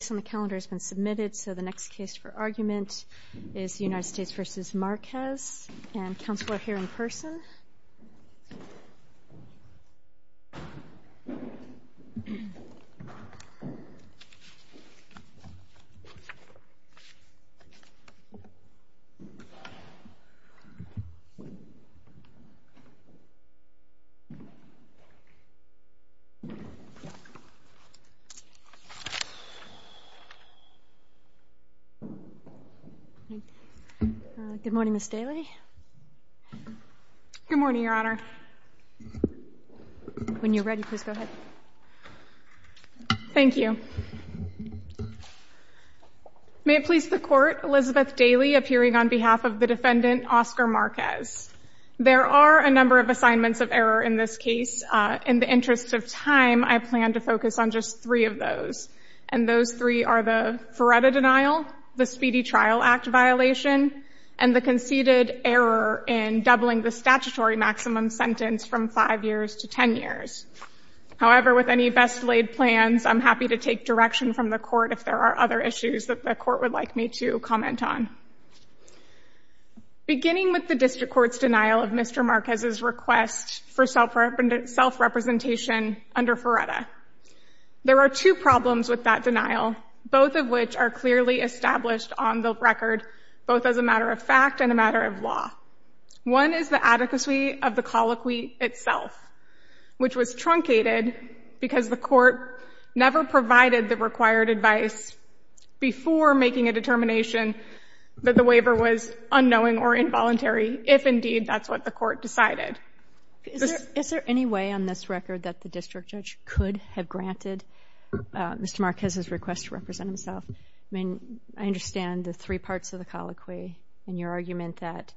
The next case on the calendar has been submitted, so the next case for argument is United States v. Marquez, and counsel are here in person. Good morning, Ms. Daly. Good morning, Your Honor. When you're ready, please go ahead. Thank you. May it please the Court, Elizabeth Daly appearing on behalf of the defendant, Oscar Marquez. There are a number of assignments of error in this case. In the interest of time, I plan to focus on just three of those. And those three are the Feretta denial, the Speedy Trial Act violation, and the conceded error in doubling the statutory maximum sentence from five years to ten years. However, with any best laid plans, I'm happy to take direction from the Court if there are other issues that the Court would like me to comment on. Beginning with the District Court's denial of Mr. Marquez's request for self-representation under Feretta, there are two problems with that denial, both of which are clearly established on the record, both as a matter of fact and a matter of law. One is the adequacy of the colloquy itself, which was truncated because the Court never provided the required advice before making a determination that the waiver was unknowing or involuntary, if indeed that's what the Court decided. Is there any way on this record that the district judge could have granted Mr. Marquez's request to represent himself? I mean, I understand the three parts of the colloquy and your argument that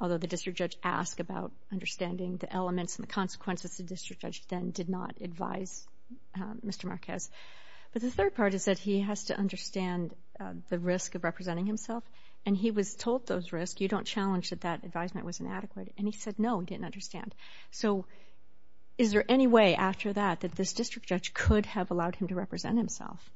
although the district judge asked about understanding the elements and the consequences, the district judge then did not advise Mr. Marquez. But the third part is that he has to understand the risk of representing himself, and he was told those risks. You don't challenge that that advisement was inadequate, and he said no and didn't understand. So is there any way after that that this district judge could have allowed him to represent himself?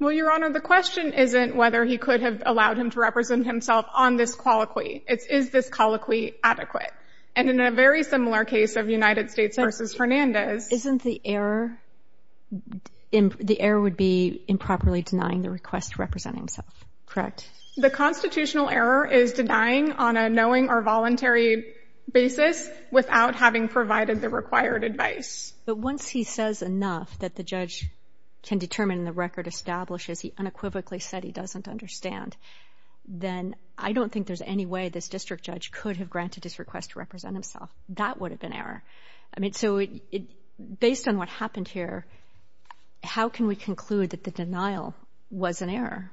Well, Your Honor, the question isn't whether he could have allowed him to represent himself on this colloquy. It's is this colloquy adequate? And in a very similar case of United States v. Fernandez — Isn't the error — the error would be improperly denying the request to represent himself, correct? The constitutional error is denying on a knowing or voluntary basis without having provided the required advice. But once he says enough that the judge can determine the record establishes he unequivocally said he doesn't understand, then I don't think there's any way this district judge could have granted his request to represent himself. That would have been error. I mean, so based on what happened here, how can we conclude that the denial was an error?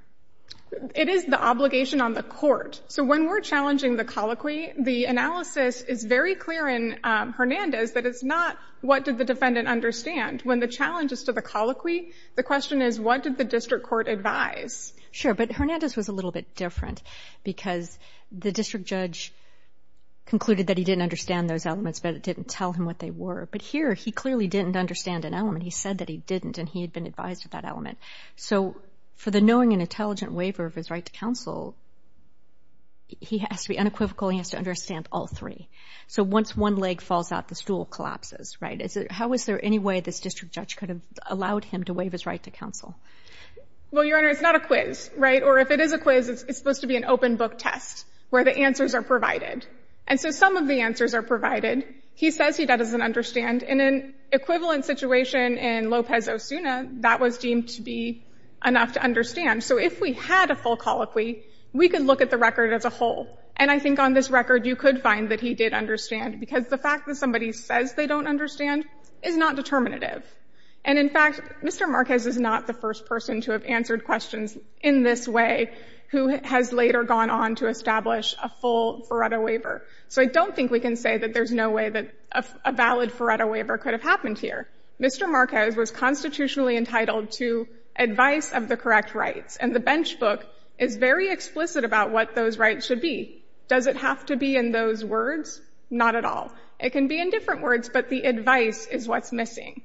It is the obligation on the court. So when we're challenging the colloquy, the analysis is very clear in Hernandez that it's not what did the defendant understand. When the challenge is to the colloquy, the question is what did the district court advise? Sure, but Hernandez was a little bit different because the district judge concluded that he didn't understand those elements, but it didn't tell him what they were. But here, he clearly didn't understand an element. He said that he didn't, and he had been advised of that element. So for the knowing and intelligent waiver of his right to counsel, he has to be unequivocal. He has to understand all three. So once one leg falls out, the stool collapses, right? How is there any way this district judge could have allowed him to waive his right to counsel? Well, Your Honor, it's not a quiz, right? Or if it is a quiz, it's supposed to be an open book test where the answers are provided. And so some of the answers are provided. He says he doesn't understand. And in an equivalent situation in Lopez-Osuna, that was deemed to be enough to understand. So if we had a full colloquy, we could look at the record as a whole. And I think on this record, you could find that he did understand because the fact that somebody says they don't understand is not determinative. And, in fact, Mr. Marquez is not the first person to have answered questions in this way who has later gone on to establish a full Faretto waiver. So I don't think we can say that there's no way that a valid Faretto waiver could have happened here. Mr. Marquez was constitutionally entitled to advice of the correct rights. And the bench book is very explicit about what those rights should be. Does it have to be in those words? Not at all. It can be in different words, but the advice is what's missing.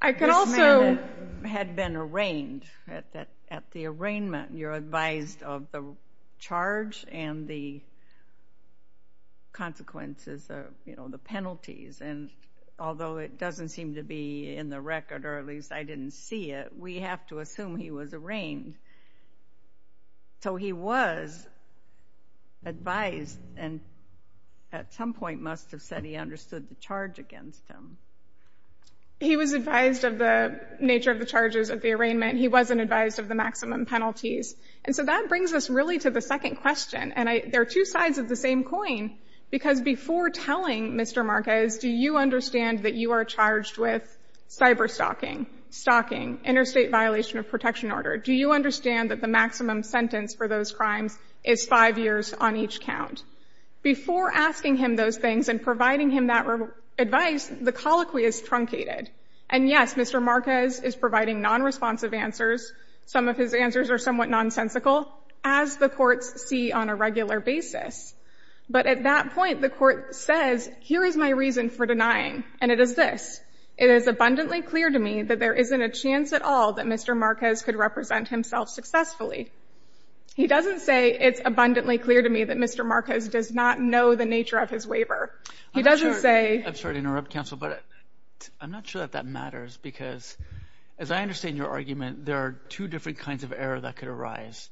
I could also— At the arraignment, you're advised of the charge and the consequences, you know, the penalties. And although it doesn't seem to be in the record, or at least I didn't see it, we have to assume he was arraigned. So he was advised and at some point must have said he understood the charge against him. He was advised of the nature of the charges of the arraignment. He wasn't advised of the maximum penalties. And so that brings us really to the second question. And there are two sides of the same coin because before telling Mr. Marquez, do you understand that you are charged with cyberstalking, stalking, interstate violation of protection order? Do you understand that the maximum sentence for those crimes is five years on each count? Before asking him those things and providing him that advice, the colloquy is truncated. And yes, Mr. Marquez is providing nonresponsive answers. Some of his answers are somewhat nonsensical, as the courts see on a regular basis. But at that point, the court says, here is my reason for denying, and it is this. It is abundantly clear to me that there isn't a chance at all that Mr. Marquez could represent himself successfully. He doesn't say, it's abundantly clear to me that Mr. Marquez does not know the nature of his waiver. He doesn't say— I'm sorry to interrupt, counsel, but I'm not sure that that matters because as I understand your argument, there are two different kinds of error that could arise.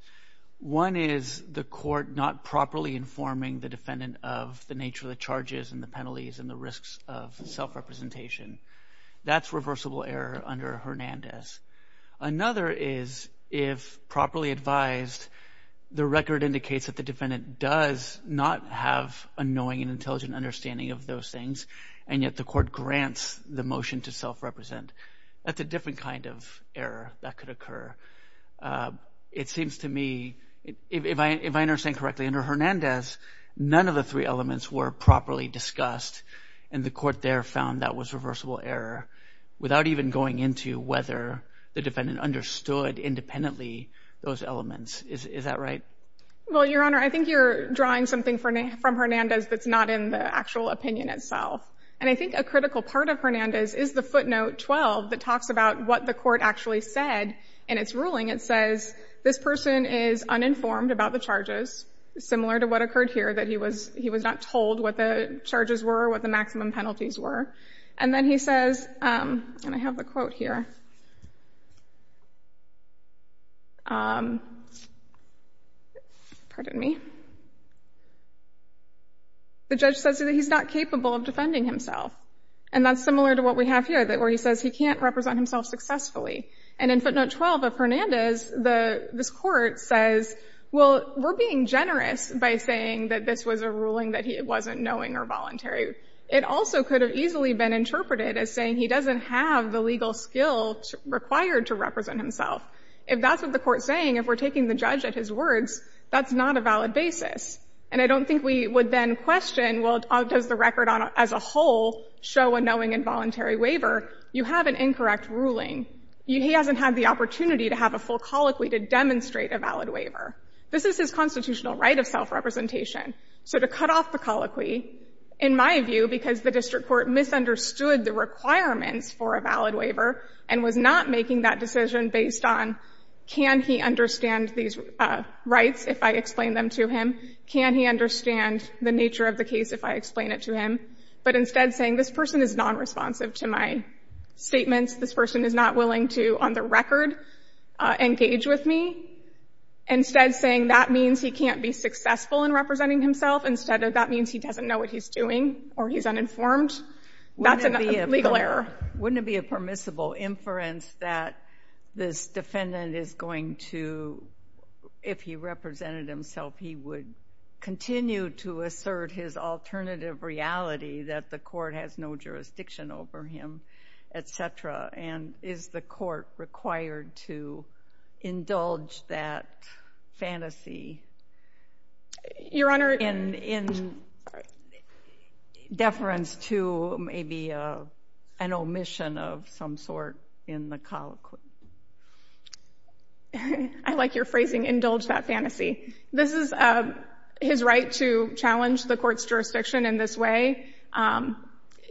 One is the court not properly informing the defendant of the nature of the charges and the penalties and the risks of self-representation. That's reversible error under Hernandez. Another is if properly advised, the record indicates that the defendant does not have a knowing and intelligent understanding of those things, and yet the court grants the motion to self-represent. That's a different kind of error that could occur. It seems to me, if I understand correctly, under Hernandez, none of the three elements were properly discussed, and the court there found that was reversible error, without even going into whether the defendant understood independently those elements. Is that right? Well, Your Honor, I think you're drawing something from Hernandez that's not in the actual opinion itself. And I think a critical part of Hernandez is the footnote 12 that talks about what the court actually said in its ruling. It says, this person is uninformed about the charges, similar to what occurred here, that he was not told what the charges were, what the maximum penalties were. And then he says, and I have the quote here, pardon me, the judge says that he's not capable of defending himself. And that's similar to what we have here, where he says he can't represent himself successfully. And in footnote 12 of Hernandez, this court says, well, we're being generous by saying that this was a ruling that he wasn't knowing or voluntary. It also could have easily been interpreted as saying he doesn't have the legal skills required to represent himself. If that's what the court's saying, if we're taking the judge at his words, that's not a valid basis. And I don't think we would then question, well, does the record as a whole show a knowing and voluntary waiver? You have an incorrect ruling. He hasn't had the opportunity to have a full colloquy to demonstrate a valid waiver. This is his constitutional right of self-representation. So to cut off the colloquy, in my view, because the district court misunderstood the requirements for a valid waiver and was not making that decision based on can he understand these rights if I explain them to him, can he understand the nature of the case if I explain it to him, but instead saying this person is nonresponsive to my statements, this person is not willing to, on the record, engage with me, instead saying that means he can't be successful in representing himself instead of that means he doesn't know what he's doing or he's uninformed, that's a legal error. Wouldn't it be a permissible inference that this defendant is going to, if he represented himself, he would continue to assert his alternative reality that the court has no jurisdiction over him, et cetera, and is the court required to indulge that fantasy in deference to maybe an omission of some sort in the colloquy? I like your phrasing, indulge that fantasy. This is his right to challenge the court's jurisdiction in this way.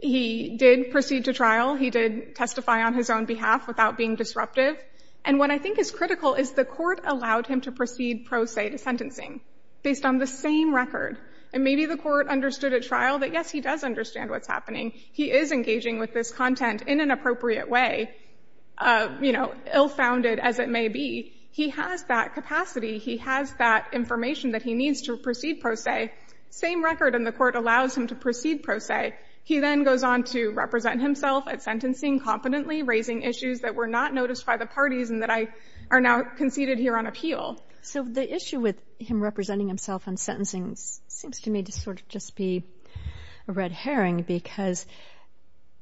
He did proceed to trial. He did testify on his own behalf without being disruptive. And what I think is critical is the court allowed him to proceed pro se to sentencing based on the same record. And maybe the court understood at trial that, yes, he does understand what's happening. He is engaging with this content in an appropriate way, you know, ill-founded as it may be. He has that capacity. He has that information that he needs to proceed pro se. Same record, and the court allows him to proceed pro se. He then goes on to represent himself at sentencing competently, raising issues that were not noticed by the parties and that are now conceded here on appeal. Well, so the issue with him representing himself on sentencing seems to me to sort of just be a red herring because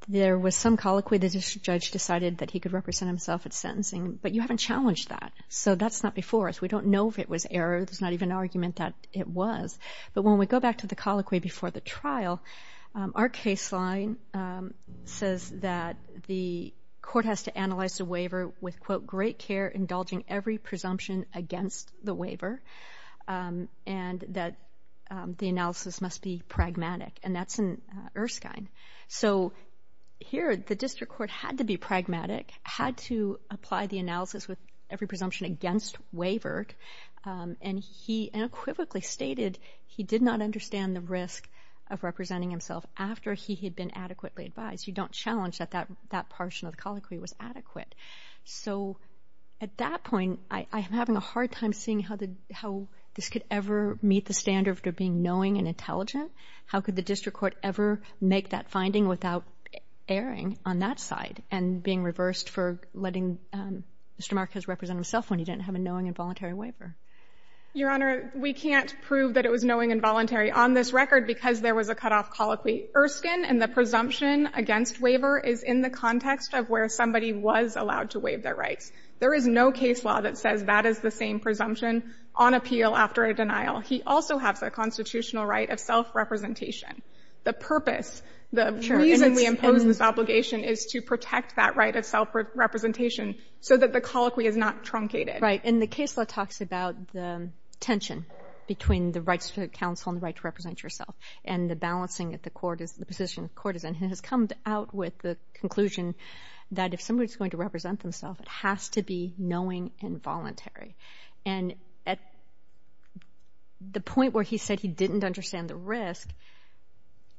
there was some colloquy the judge decided that he could represent himself at sentencing, but you haven't challenged that. So that's not before us. We don't know if it was error. There's not even an argument that it was. Well, our case line says that the court has to analyze the waiver with, quote, great care, indulging every presumption against the waiver, and that the analysis must be pragmatic, and that's in Erskine. So here the district court had to be pragmatic, had to apply the analysis with every presumption against waiver, and he unequivocally stated he did not understand the risk of representing himself after he had been adequately advised. You don't challenge that that portion of the colloquy was adequate. So at that point, I am having a hard time seeing how this could ever meet the standard of being knowing and intelligent. How could the district court ever make that finding without erring on that side and being reversed for letting Mr. Marquez represent himself when he didn't have a knowing and voluntary waiver? Your Honor, we can't prove that it was knowing and voluntary on this record because there was a cutoff colloquy. Erskine and the presumption against waiver is in the context of where somebody was allowed to waive their rights. There is no case law that says that is the same presumption on appeal after a denial. He also has a constitutional right of self-representation. The purpose, the reason we impose this obligation is to protect that right of self-representation so that the colloquy is not truncated. Right. And the case law talks about the tension between the rights to counsel and the right to represent yourself and the balancing at the court is the position of court has come out with the conclusion that if somebody is going to represent themselves, it has to be knowing and voluntary. And at the point where he said he didn't understand the risk,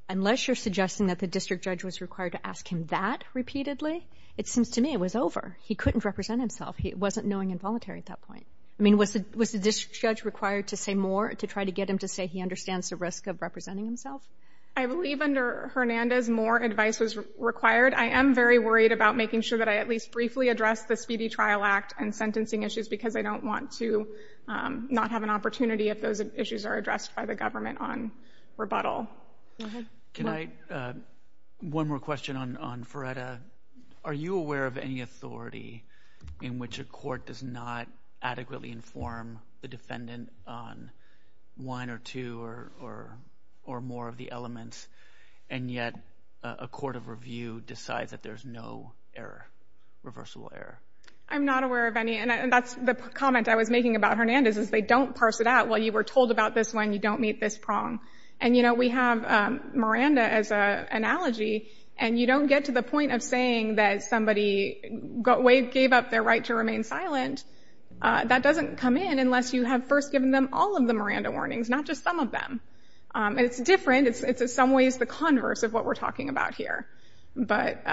unless you're suggesting that the district judge was required to ask him that repeatedly, it seems to me it was over. He couldn't represent himself. He wasn't knowing and voluntary at that point. I mean, was the district judge required to say more to try to get him to say he understands the risk of representing himself? I believe under Hernandez more advice was required. I am very worried about making sure that I at least briefly address the Speedy Trial Act and sentencing issues because I don't want to not have an opportunity if those issues are addressed by the government on rebuttal. Can I, one more question on Ferreta. Are you aware of any authority in which a court does not adequately inform the defendant on one or two or more of the elements and yet a court of review decides that there's no error, reversible error? I'm not aware of any. And that's the comment I was making about Hernandez is they don't parse it out. Well, you were told about this one. You don't meet this prong. And, you know, we have Miranda as an analogy. And you don't get to the point of saying that somebody gave up their right to remain silent. That doesn't come in unless you have first given them all of the Miranda warnings, not just some of them. And it's different. It's in some ways the converse of what we're talking about here. But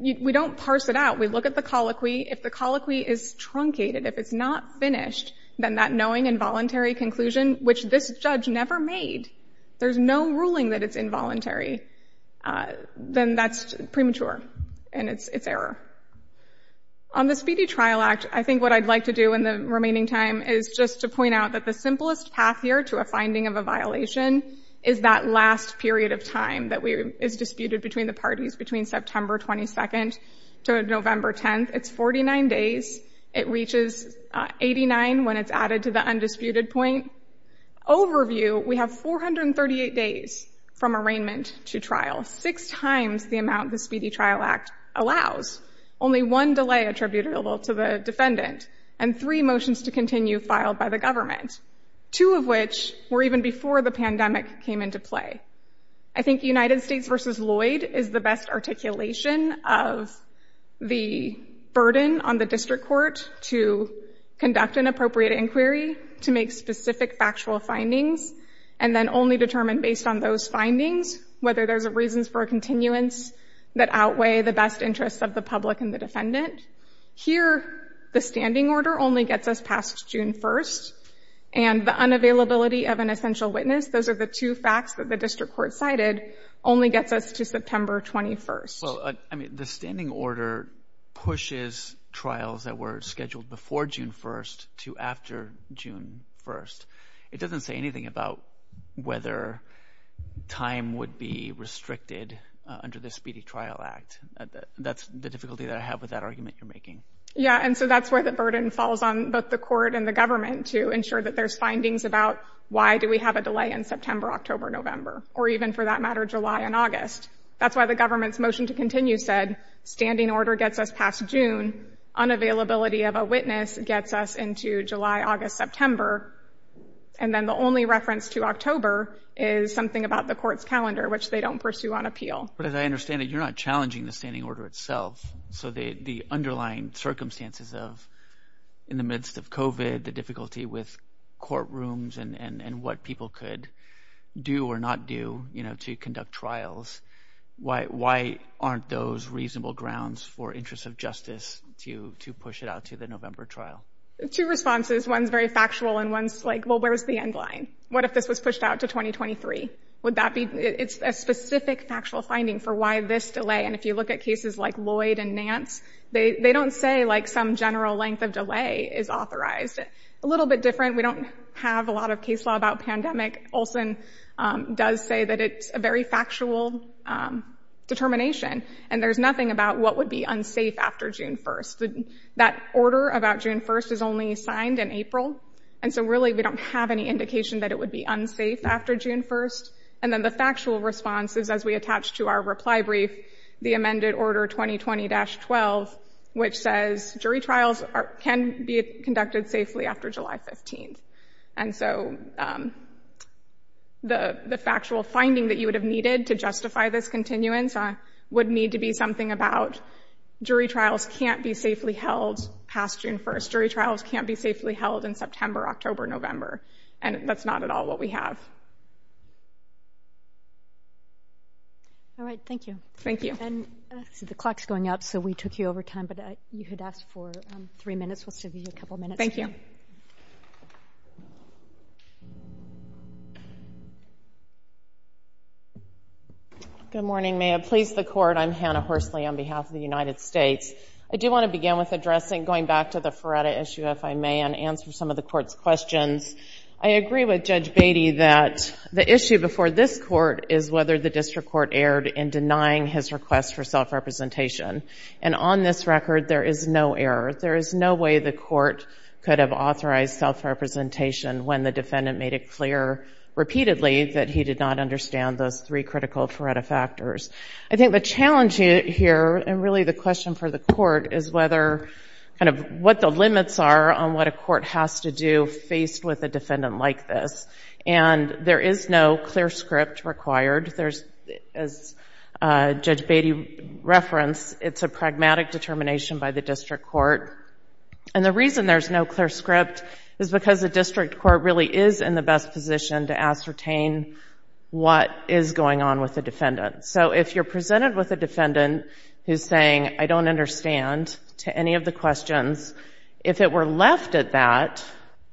we don't parse it out. We look at the colloquy. If the colloquy is truncated, if it's not finished, then that knowing involuntary conclusion, which this judge never made, there's no ruling that it's involuntary, then that's premature and it's error. On the Speedy Trial Act, I think what I'd like to do in the remaining time is just to point out that the simplest path here to a finding of a violation is that last period of time that is disputed between the parties between September 22nd to November 10th. It's 49 days. It reaches 89 when it's added to the undisputed point. Overview, we have 438 days from arraignment to trial, six times the amount the Speedy Trial Act allows, only one delay attributable to the defendant, and three motions to continue filed by the government, two of which were even before the pandemic came into play. I think United States v. Lloyd is the best articulation of the burden on the district court to conduct an appropriate inquiry to make specific factual findings and then only determine based on those findings whether there's reasons for a continuance that outweigh the best interests of the public and the defendant. Here, the standing order only gets us past June 1st, and the unavailability of an essential witness, those are the two facts that the district court cited, only gets us to September 21st. The standing order pushes trials that were scheduled before June 1st to after June 1st. It doesn't say anything about whether time would be restricted under the Speedy Trial Act. That's the difficulty that I have with that argument you're making. Yeah, and so that's where the burden falls on both the court and the government to ensure that there's findings about why do we have a delay in September, October, November, or even, for that matter, July and August. That's why the government's motion to continue said standing order gets us past June, unavailability of a witness gets us into July, August, September, and then the only reference to October is something about the court's calendar, which they don't pursue on appeal. But as I understand it, you're not challenging the standing order itself. So the underlying circumstances in the midst of COVID, the difficulty with courtrooms and what people could do or not do to conduct trials, why aren't those reasonable grounds for interests of justice to push it out to the November trial? Two responses. One's very factual, and one's like, well, where's the end line? What if this was pushed out to 2023? It's a specific factual finding for why this delay. And if you look at cases like Lloyd and Nance, they don't say some general length of delay is authorized. A little bit different, we don't have a lot of case law about pandemic. Olson does say that it's a very factual determination, and there's nothing about what would be unsafe after June 1st. That order about June 1st is only signed in April, and so really we don't have any indication that it would be unsafe after June 1st. And then the factual response is, as we attach to our reply brief, the amended order 2020-12, which says jury trials can be conducted safely after July 15th. And so the factual finding that you would have needed to justify this continuance would need to be something about jury trials can't be safely held past June 1st. Or jury trials can't be safely held in September, October, November. And that's not at all what we have. All right, thank you. Thank you. And the clock's going up, so we took you over time, but you had asked for three minutes. We'll save you a couple minutes. Thank you. Good morning. May it please the Court, I'm Hannah Horsley on behalf of the United States. I do want to begin with addressing, going back to the Feretta issue, if I may, and answer some of the Court's questions. I agree with Judge Beatty that the issue before this Court is whether the district court erred in denying his request for self-representation. And on this record, there is no error. There is no way the Court could have authorized self-representation when the defendant made it clear repeatedly that he did not understand those three critical Feretta factors. I think the challenge here, and really the question for the Court, is what the limits are on what a court has to do faced with a defendant like this. And there is no clear script required. As Judge Beatty referenced, it's a pragmatic determination by the district court. And the reason there's no clear script is because the district court really is in the best position to ascertain what is going on with the defendant. So if you're presented with a defendant who's saying, I don't understand, to any of the questions, if it were left at that,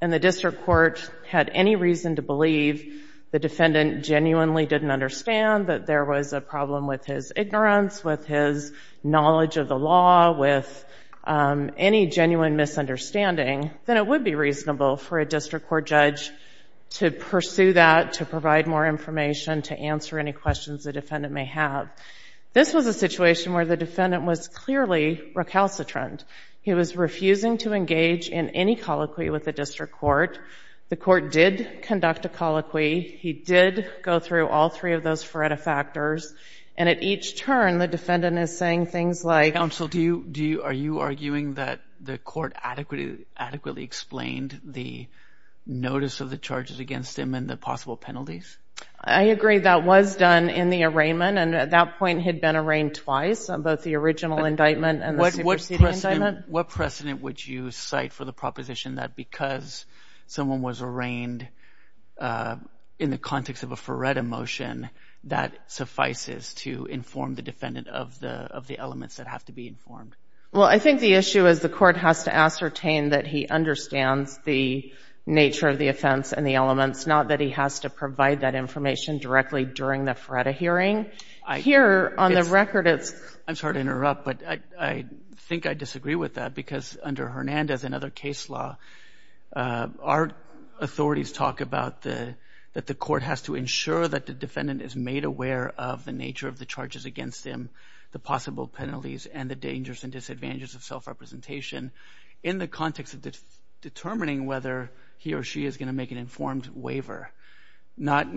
and the district court had any reason to believe the defendant genuinely didn't understand that there was a problem with his ignorance, with his knowledge of the law, with any genuine misunderstanding, then it would be reasonable for a district court judge to pursue that, to provide more information, to answer any questions the defendant may have. This was a situation where the defendant was clearly recalcitrant. He was refusing to engage in any colloquy with the district court. The Court did conduct a colloquy. He did go through all three of those Feretta factors. And at each turn, the defendant is saying things like, Counsel, are you arguing that the court adequately explained the notice of the charges against him and the possible penalties? I agree that was done in the arraignment. And at that point, he had been arraigned twice, on both the original indictment and the superseding indictment. What precedent would you cite for the proposition that because someone was arraigned in the context of a Feretta motion, that suffices to inform the defendant of the elements that have to be informed? Well, I think the issue is the court has to ascertain that he understands the nature of the offense and the elements, not that he has to provide that information directly during the Feretta hearing. Here, on the record, it's... I'm sorry to interrupt, but I think I disagree with that, because under Hernandez and other case law, our authorities talk about that the court has to ensure that the defendant is made aware of the nature of the charges against him, the possible penalties and the dangers and disadvantages of self-representation in the context of determining whether he or she is going to make an informed waiver. Not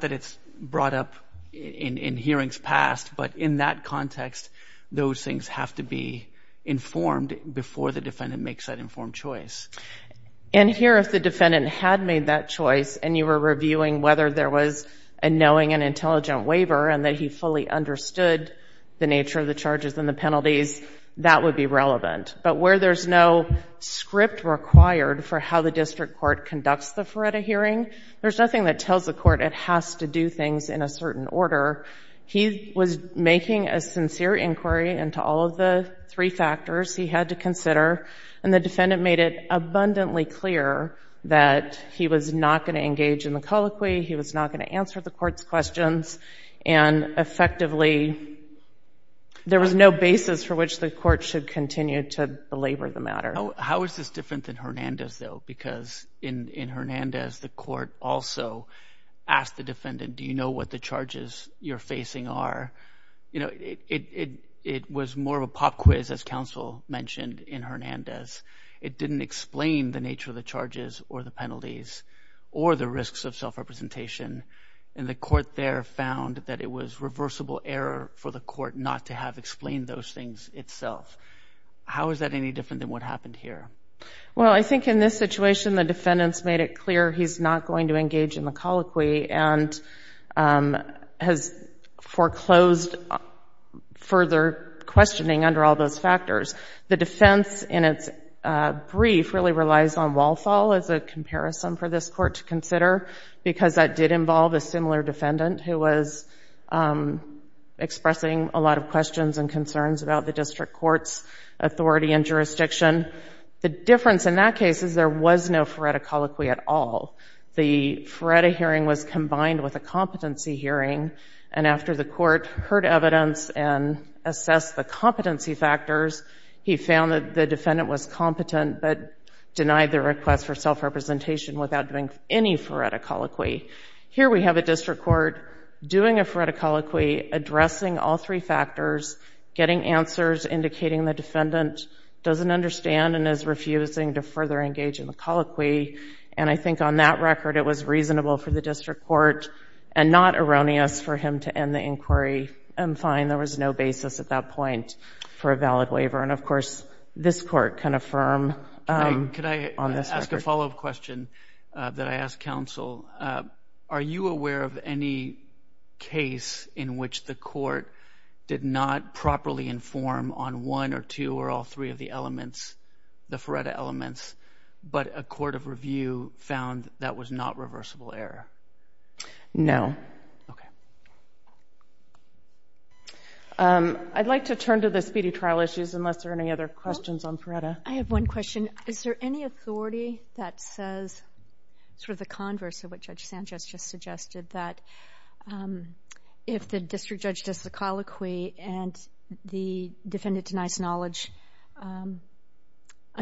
that it's brought up in hearings past, but in that context, those things have to be informed before the defendant makes that informed choice. And here, if the defendant had made that choice and you were reviewing whether there was a knowing and intelligent waiver and that he fully understood the nature of the charges and the penalties, that would be relevant. But where there's no script required for how the district court conducts the Feretta hearing, there's nothing that tells the court it has to do things in a certain order. He was making a sincere inquiry into all of the three factors he had to consider, and the defendant made it abundantly clear that he was not going to engage in the colloquy, he was not going to answer the court's questions, and effectively there was no basis for which the court should continue to belabor the matter. How is this different than Hernandez, though? Because in Hernandez, the court also asked the defendant, do you know what the charges you're facing are? You know, it was more of a pop quiz, as counsel mentioned, in Hernandez. It didn't explain the nature of the charges or the penalties or the risks of self-representation, and the court there found that it was reversible error for the court not to have explained those things itself. How is that any different than what happened here? Well, I think in this situation the defendant's made it clear he's not going to engage in the colloquy and has foreclosed further questioning under all those factors. The defense in its brief really relies on Walthall as a comparison for this court to consider because that did involve a similar defendant who was expressing a lot of questions and concerns about the district court's authority and jurisdiction. The difference in that case is there was no foretta colloquy at all. The foretta hearing was combined with a competency hearing, and after the court heard evidence and assessed the competency factors, he found that the defendant was competent but denied the request for self-representation without doing any foretta colloquy. Here we have a district court doing a foretta colloquy, addressing all three factors, getting answers, indicating the defendant doesn't understand and is refusing to further engage in the colloquy, and I think on that record it was reasonable for the district court and not erroneous for him to end the inquiry. I'm fine. There was no basis at that point for a valid waiver, and of course this court can affirm on this record. Can I ask a follow-up question that I ask counsel? Are you aware of any case in which the court did not properly inform on one or two or all three of the elements, the foretta elements, but a court of review found that was not reversible error? No. Okay. I'd like to turn to the speedy trial issues unless there are any other questions on foretta. I have one question. Is there any authority that says sort of the converse of what Judge Sanchez just suggested, that if the district judge does the colloquy and the defendant denies knowledge on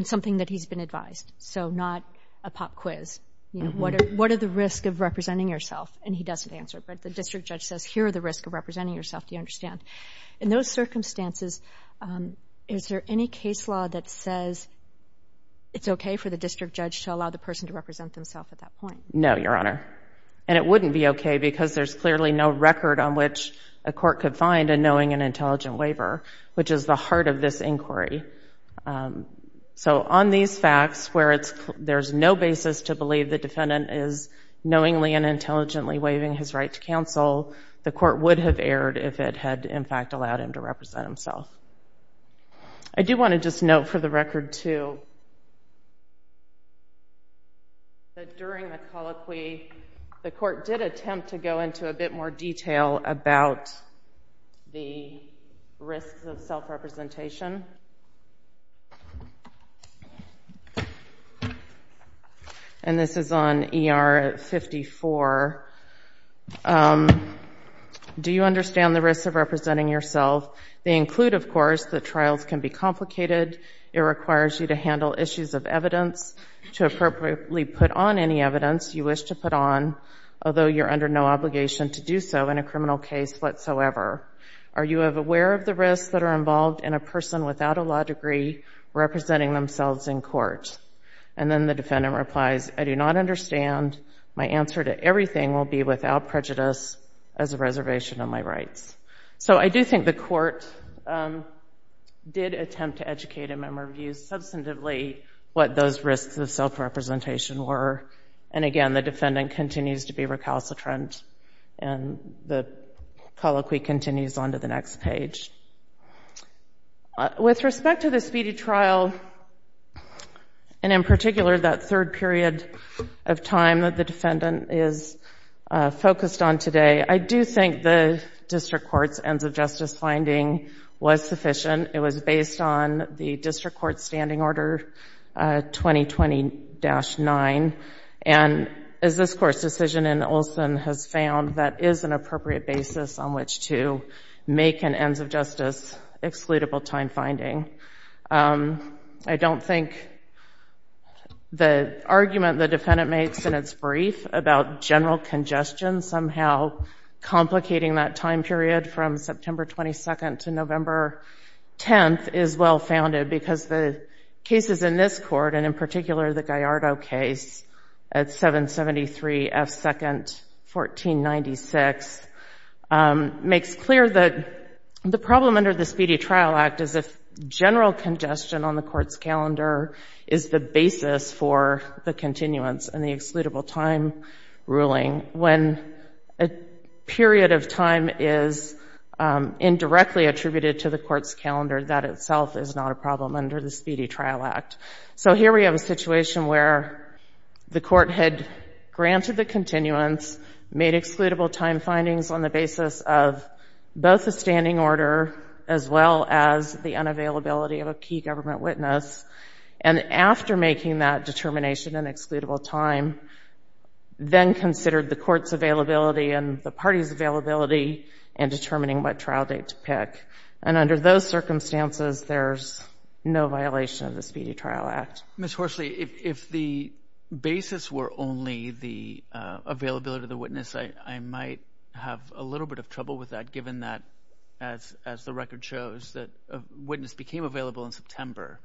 something that he's been advised, so not a pop quiz, what are the risks of representing yourself? And he doesn't answer, but the district judge says, here are the risks of representing yourself, do you understand? In those circumstances, is there any case law that says it's okay for the district judge to allow the person to represent himself at that point? No, Your Honor, and it wouldn't be okay because there's clearly no record on which a court could find a knowing and intelligent waiver, which is the heart of this inquiry. So on these facts where there's no basis to believe the defendant is knowingly and intelligently waiving his right to counsel, the court would have erred if it had, in fact, allowed him to represent himself. I do want to just note for the record, too, that during the colloquy, the court did attempt to go into a bit more detail about the risks of self-representation. And this is on ER 54. Do you understand the risks of representing yourself? They include, of course, that trials can be complicated. It requires you to handle issues of evidence, to appropriately put on any evidence you wish to put on, although you're under no obligation to do so in a criminal case whatsoever. Are you aware of the risks that are involved in a person without a law degree representing themselves in court? And then the defendant replies, I do not understand. My answer to everything will be without prejudice as a reservation of my rights. So I do think the court did attempt to educate a member of you substantively what those risks of self-representation were. And again, the defendant continues to be recalcitrant, and the colloquy continues on to the next page. With respect to the speedy trial, and in particular that third period of time that the defendant is focused on today, I do think the district court's ends-of-justice finding was sufficient. It was based on the district court's standing order 2020-9. And as this Court's decision in Olson has found, that is an appropriate basis on which to make an ends-of-justice excludable time finding. I don't think the argument the defendant makes in its brief about general congestion somehow complicating that time period from September 22nd to November 10th is well-founded because the cases in this Court, and in particular the Gallardo case at 773 F. 2nd, 1496, makes clear that the problem under the Speedy Trial Act is if general congestion on the Court's calendar is the basis for the continuance and the excludable time ruling when a period of time is indirectly attributed to the Court's calendar, that itself is not a problem under the Speedy Trial Act. So here we have a situation where the Court had granted the continuance, made excludable time findings on the basis of both the standing order as well as the unavailability of a key government witness, and after making that determination in excludable time, then considered the Court's availability and the party's availability in determining what trial date to pick. And under those circumstances, there's no violation of the Speedy Trial Act. Ms. Horsley, if the basis were only the availability of the witness, I might have a little bit of trouble with that given that, as the record shows, that a witness became available in September.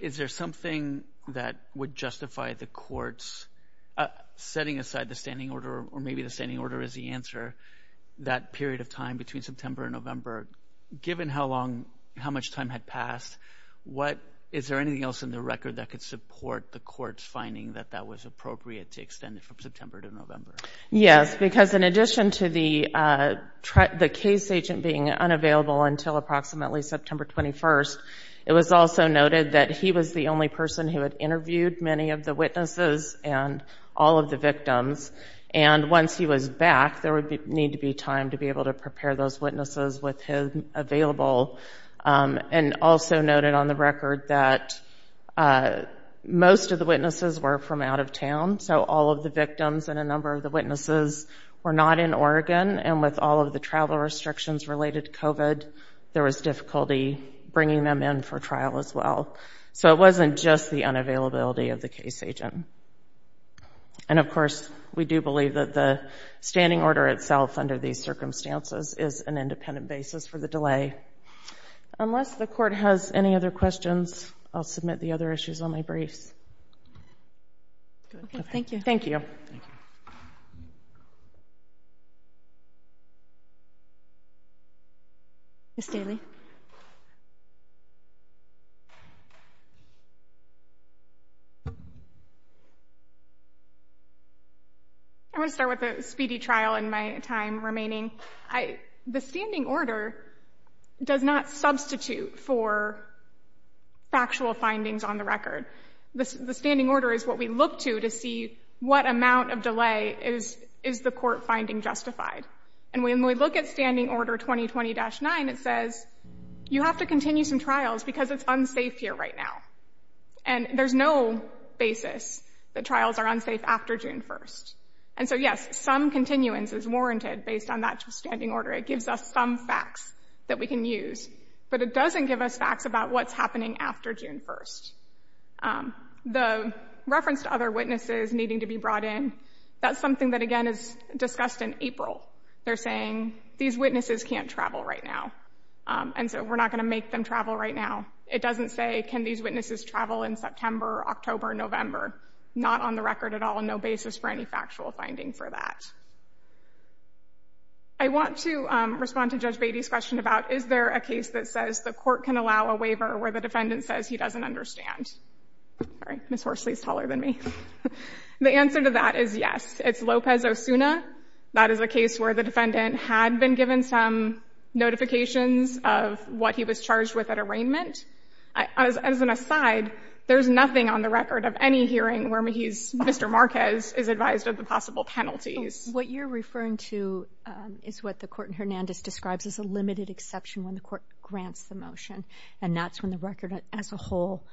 Is there something that would justify the Court's setting aside the standing order, or maybe the standing order is the answer, that period of time between September and November, given how much time had passed, is there anything else in the record that could support the Court's finding that that was appropriate to extend it from September to November? Yes, because in addition to the case agent being unavailable until approximately September 21st, it was also noted that he was the only person who had interviewed many of the witnesses and all of the victims, and once he was back, there would need to be time to be able to prepare those witnesses with him available, and also noted on the record that most of the witnesses were from out of town, so all of the victims and a number of the witnesses were not in Oregon, and with all of the travel restrictions related to COVID, there was difficulty bringing them in for trial as well. So it wasn't just the unavailability of the case agent. And of course, we do believe that the standing order itself under these circumstances is an independent basis for the delay. Unless the Court has any other questions, I'll submit the other issues on my briefs. Okay, thank you. Thank you. Ms. Daly. I want to start with a speedy trial in my time remaining. The standing order does not substitute for factual findings on the record. The standing order is what we look to to see what amount of delay is the court finding justified. And when we look at standing order 2020-9, it says you have to continue some trials because it's unsafe here right now. And there's no basis that trials are unsafe after June 1st. And so, yes, some continuance is warranted based on that standing order. It gives us some facts that we can use, but it doesn't give us facts about what's happening after June 1st. The reference to other witnesses needing to be brought in, that's something that, again, is discussed in April. They're saying these witnesses can't travel right now, and so we're not going to make them travel right now. It doesn't say can these witnesses travel in September, October, November. Not on the record at all, no basis for any factual finding for that. I want to respond to Judge Beatty's question about is there a case that says the Court can allow a waiver where the defendant says he doesn't understand. Sorry, Ms. Horsley is taller than me. The answer to that is yes. It's Lopez-Osuna. That is a case where the defendant had been given some notifications of what he was charged with at arraignment. As an aside, there's nothing on the record of any hearing where Mr. Marquez is advised of the possible penalties. What you're referring to is what the Court in Hernandez describes as a limited exception when the Court grants the motion, and that's when the record as a whole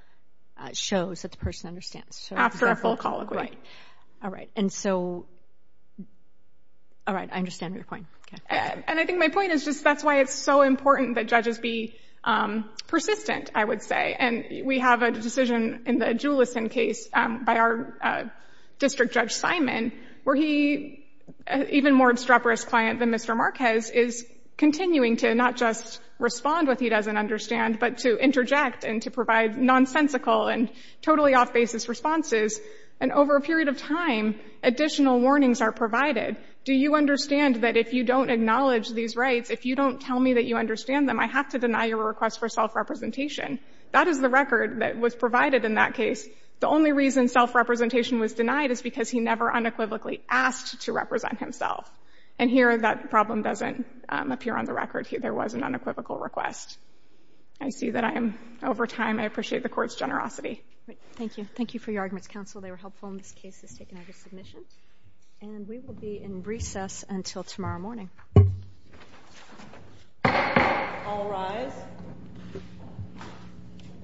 shows that the person understands. After a full colloquy. Right. All right. And so, all right, I understand your point. And I think my point is just that's why it's so important that judges be persistent, I would say. And we have a decision in the Julison case by our District Judge Simon where he, an even more obstreperous client than Mr. Marquez, is continuing to not just respond what he doesn't understand, but to interject and to provide nonsensical and totally off-basis responses. And over a period of time, additional warnings are provided. Do you understand that if you don't acknowledge these rights, if you don't tell me that you understand them, I have to deny your request for self-representation? That is the record that was provided in that case. The only reason self-representation was denied is because he never unequivocally asked to represent himself. And here, that problem doesn't appear on the record. There was an unequivocal request. I see that I am over time. I appreciate the court's generosity. Thank you. Thank you for your arguments, counsel. They were helpful in this case that's taken out of submission. And we will be in recess until tomorrow morning. All rise.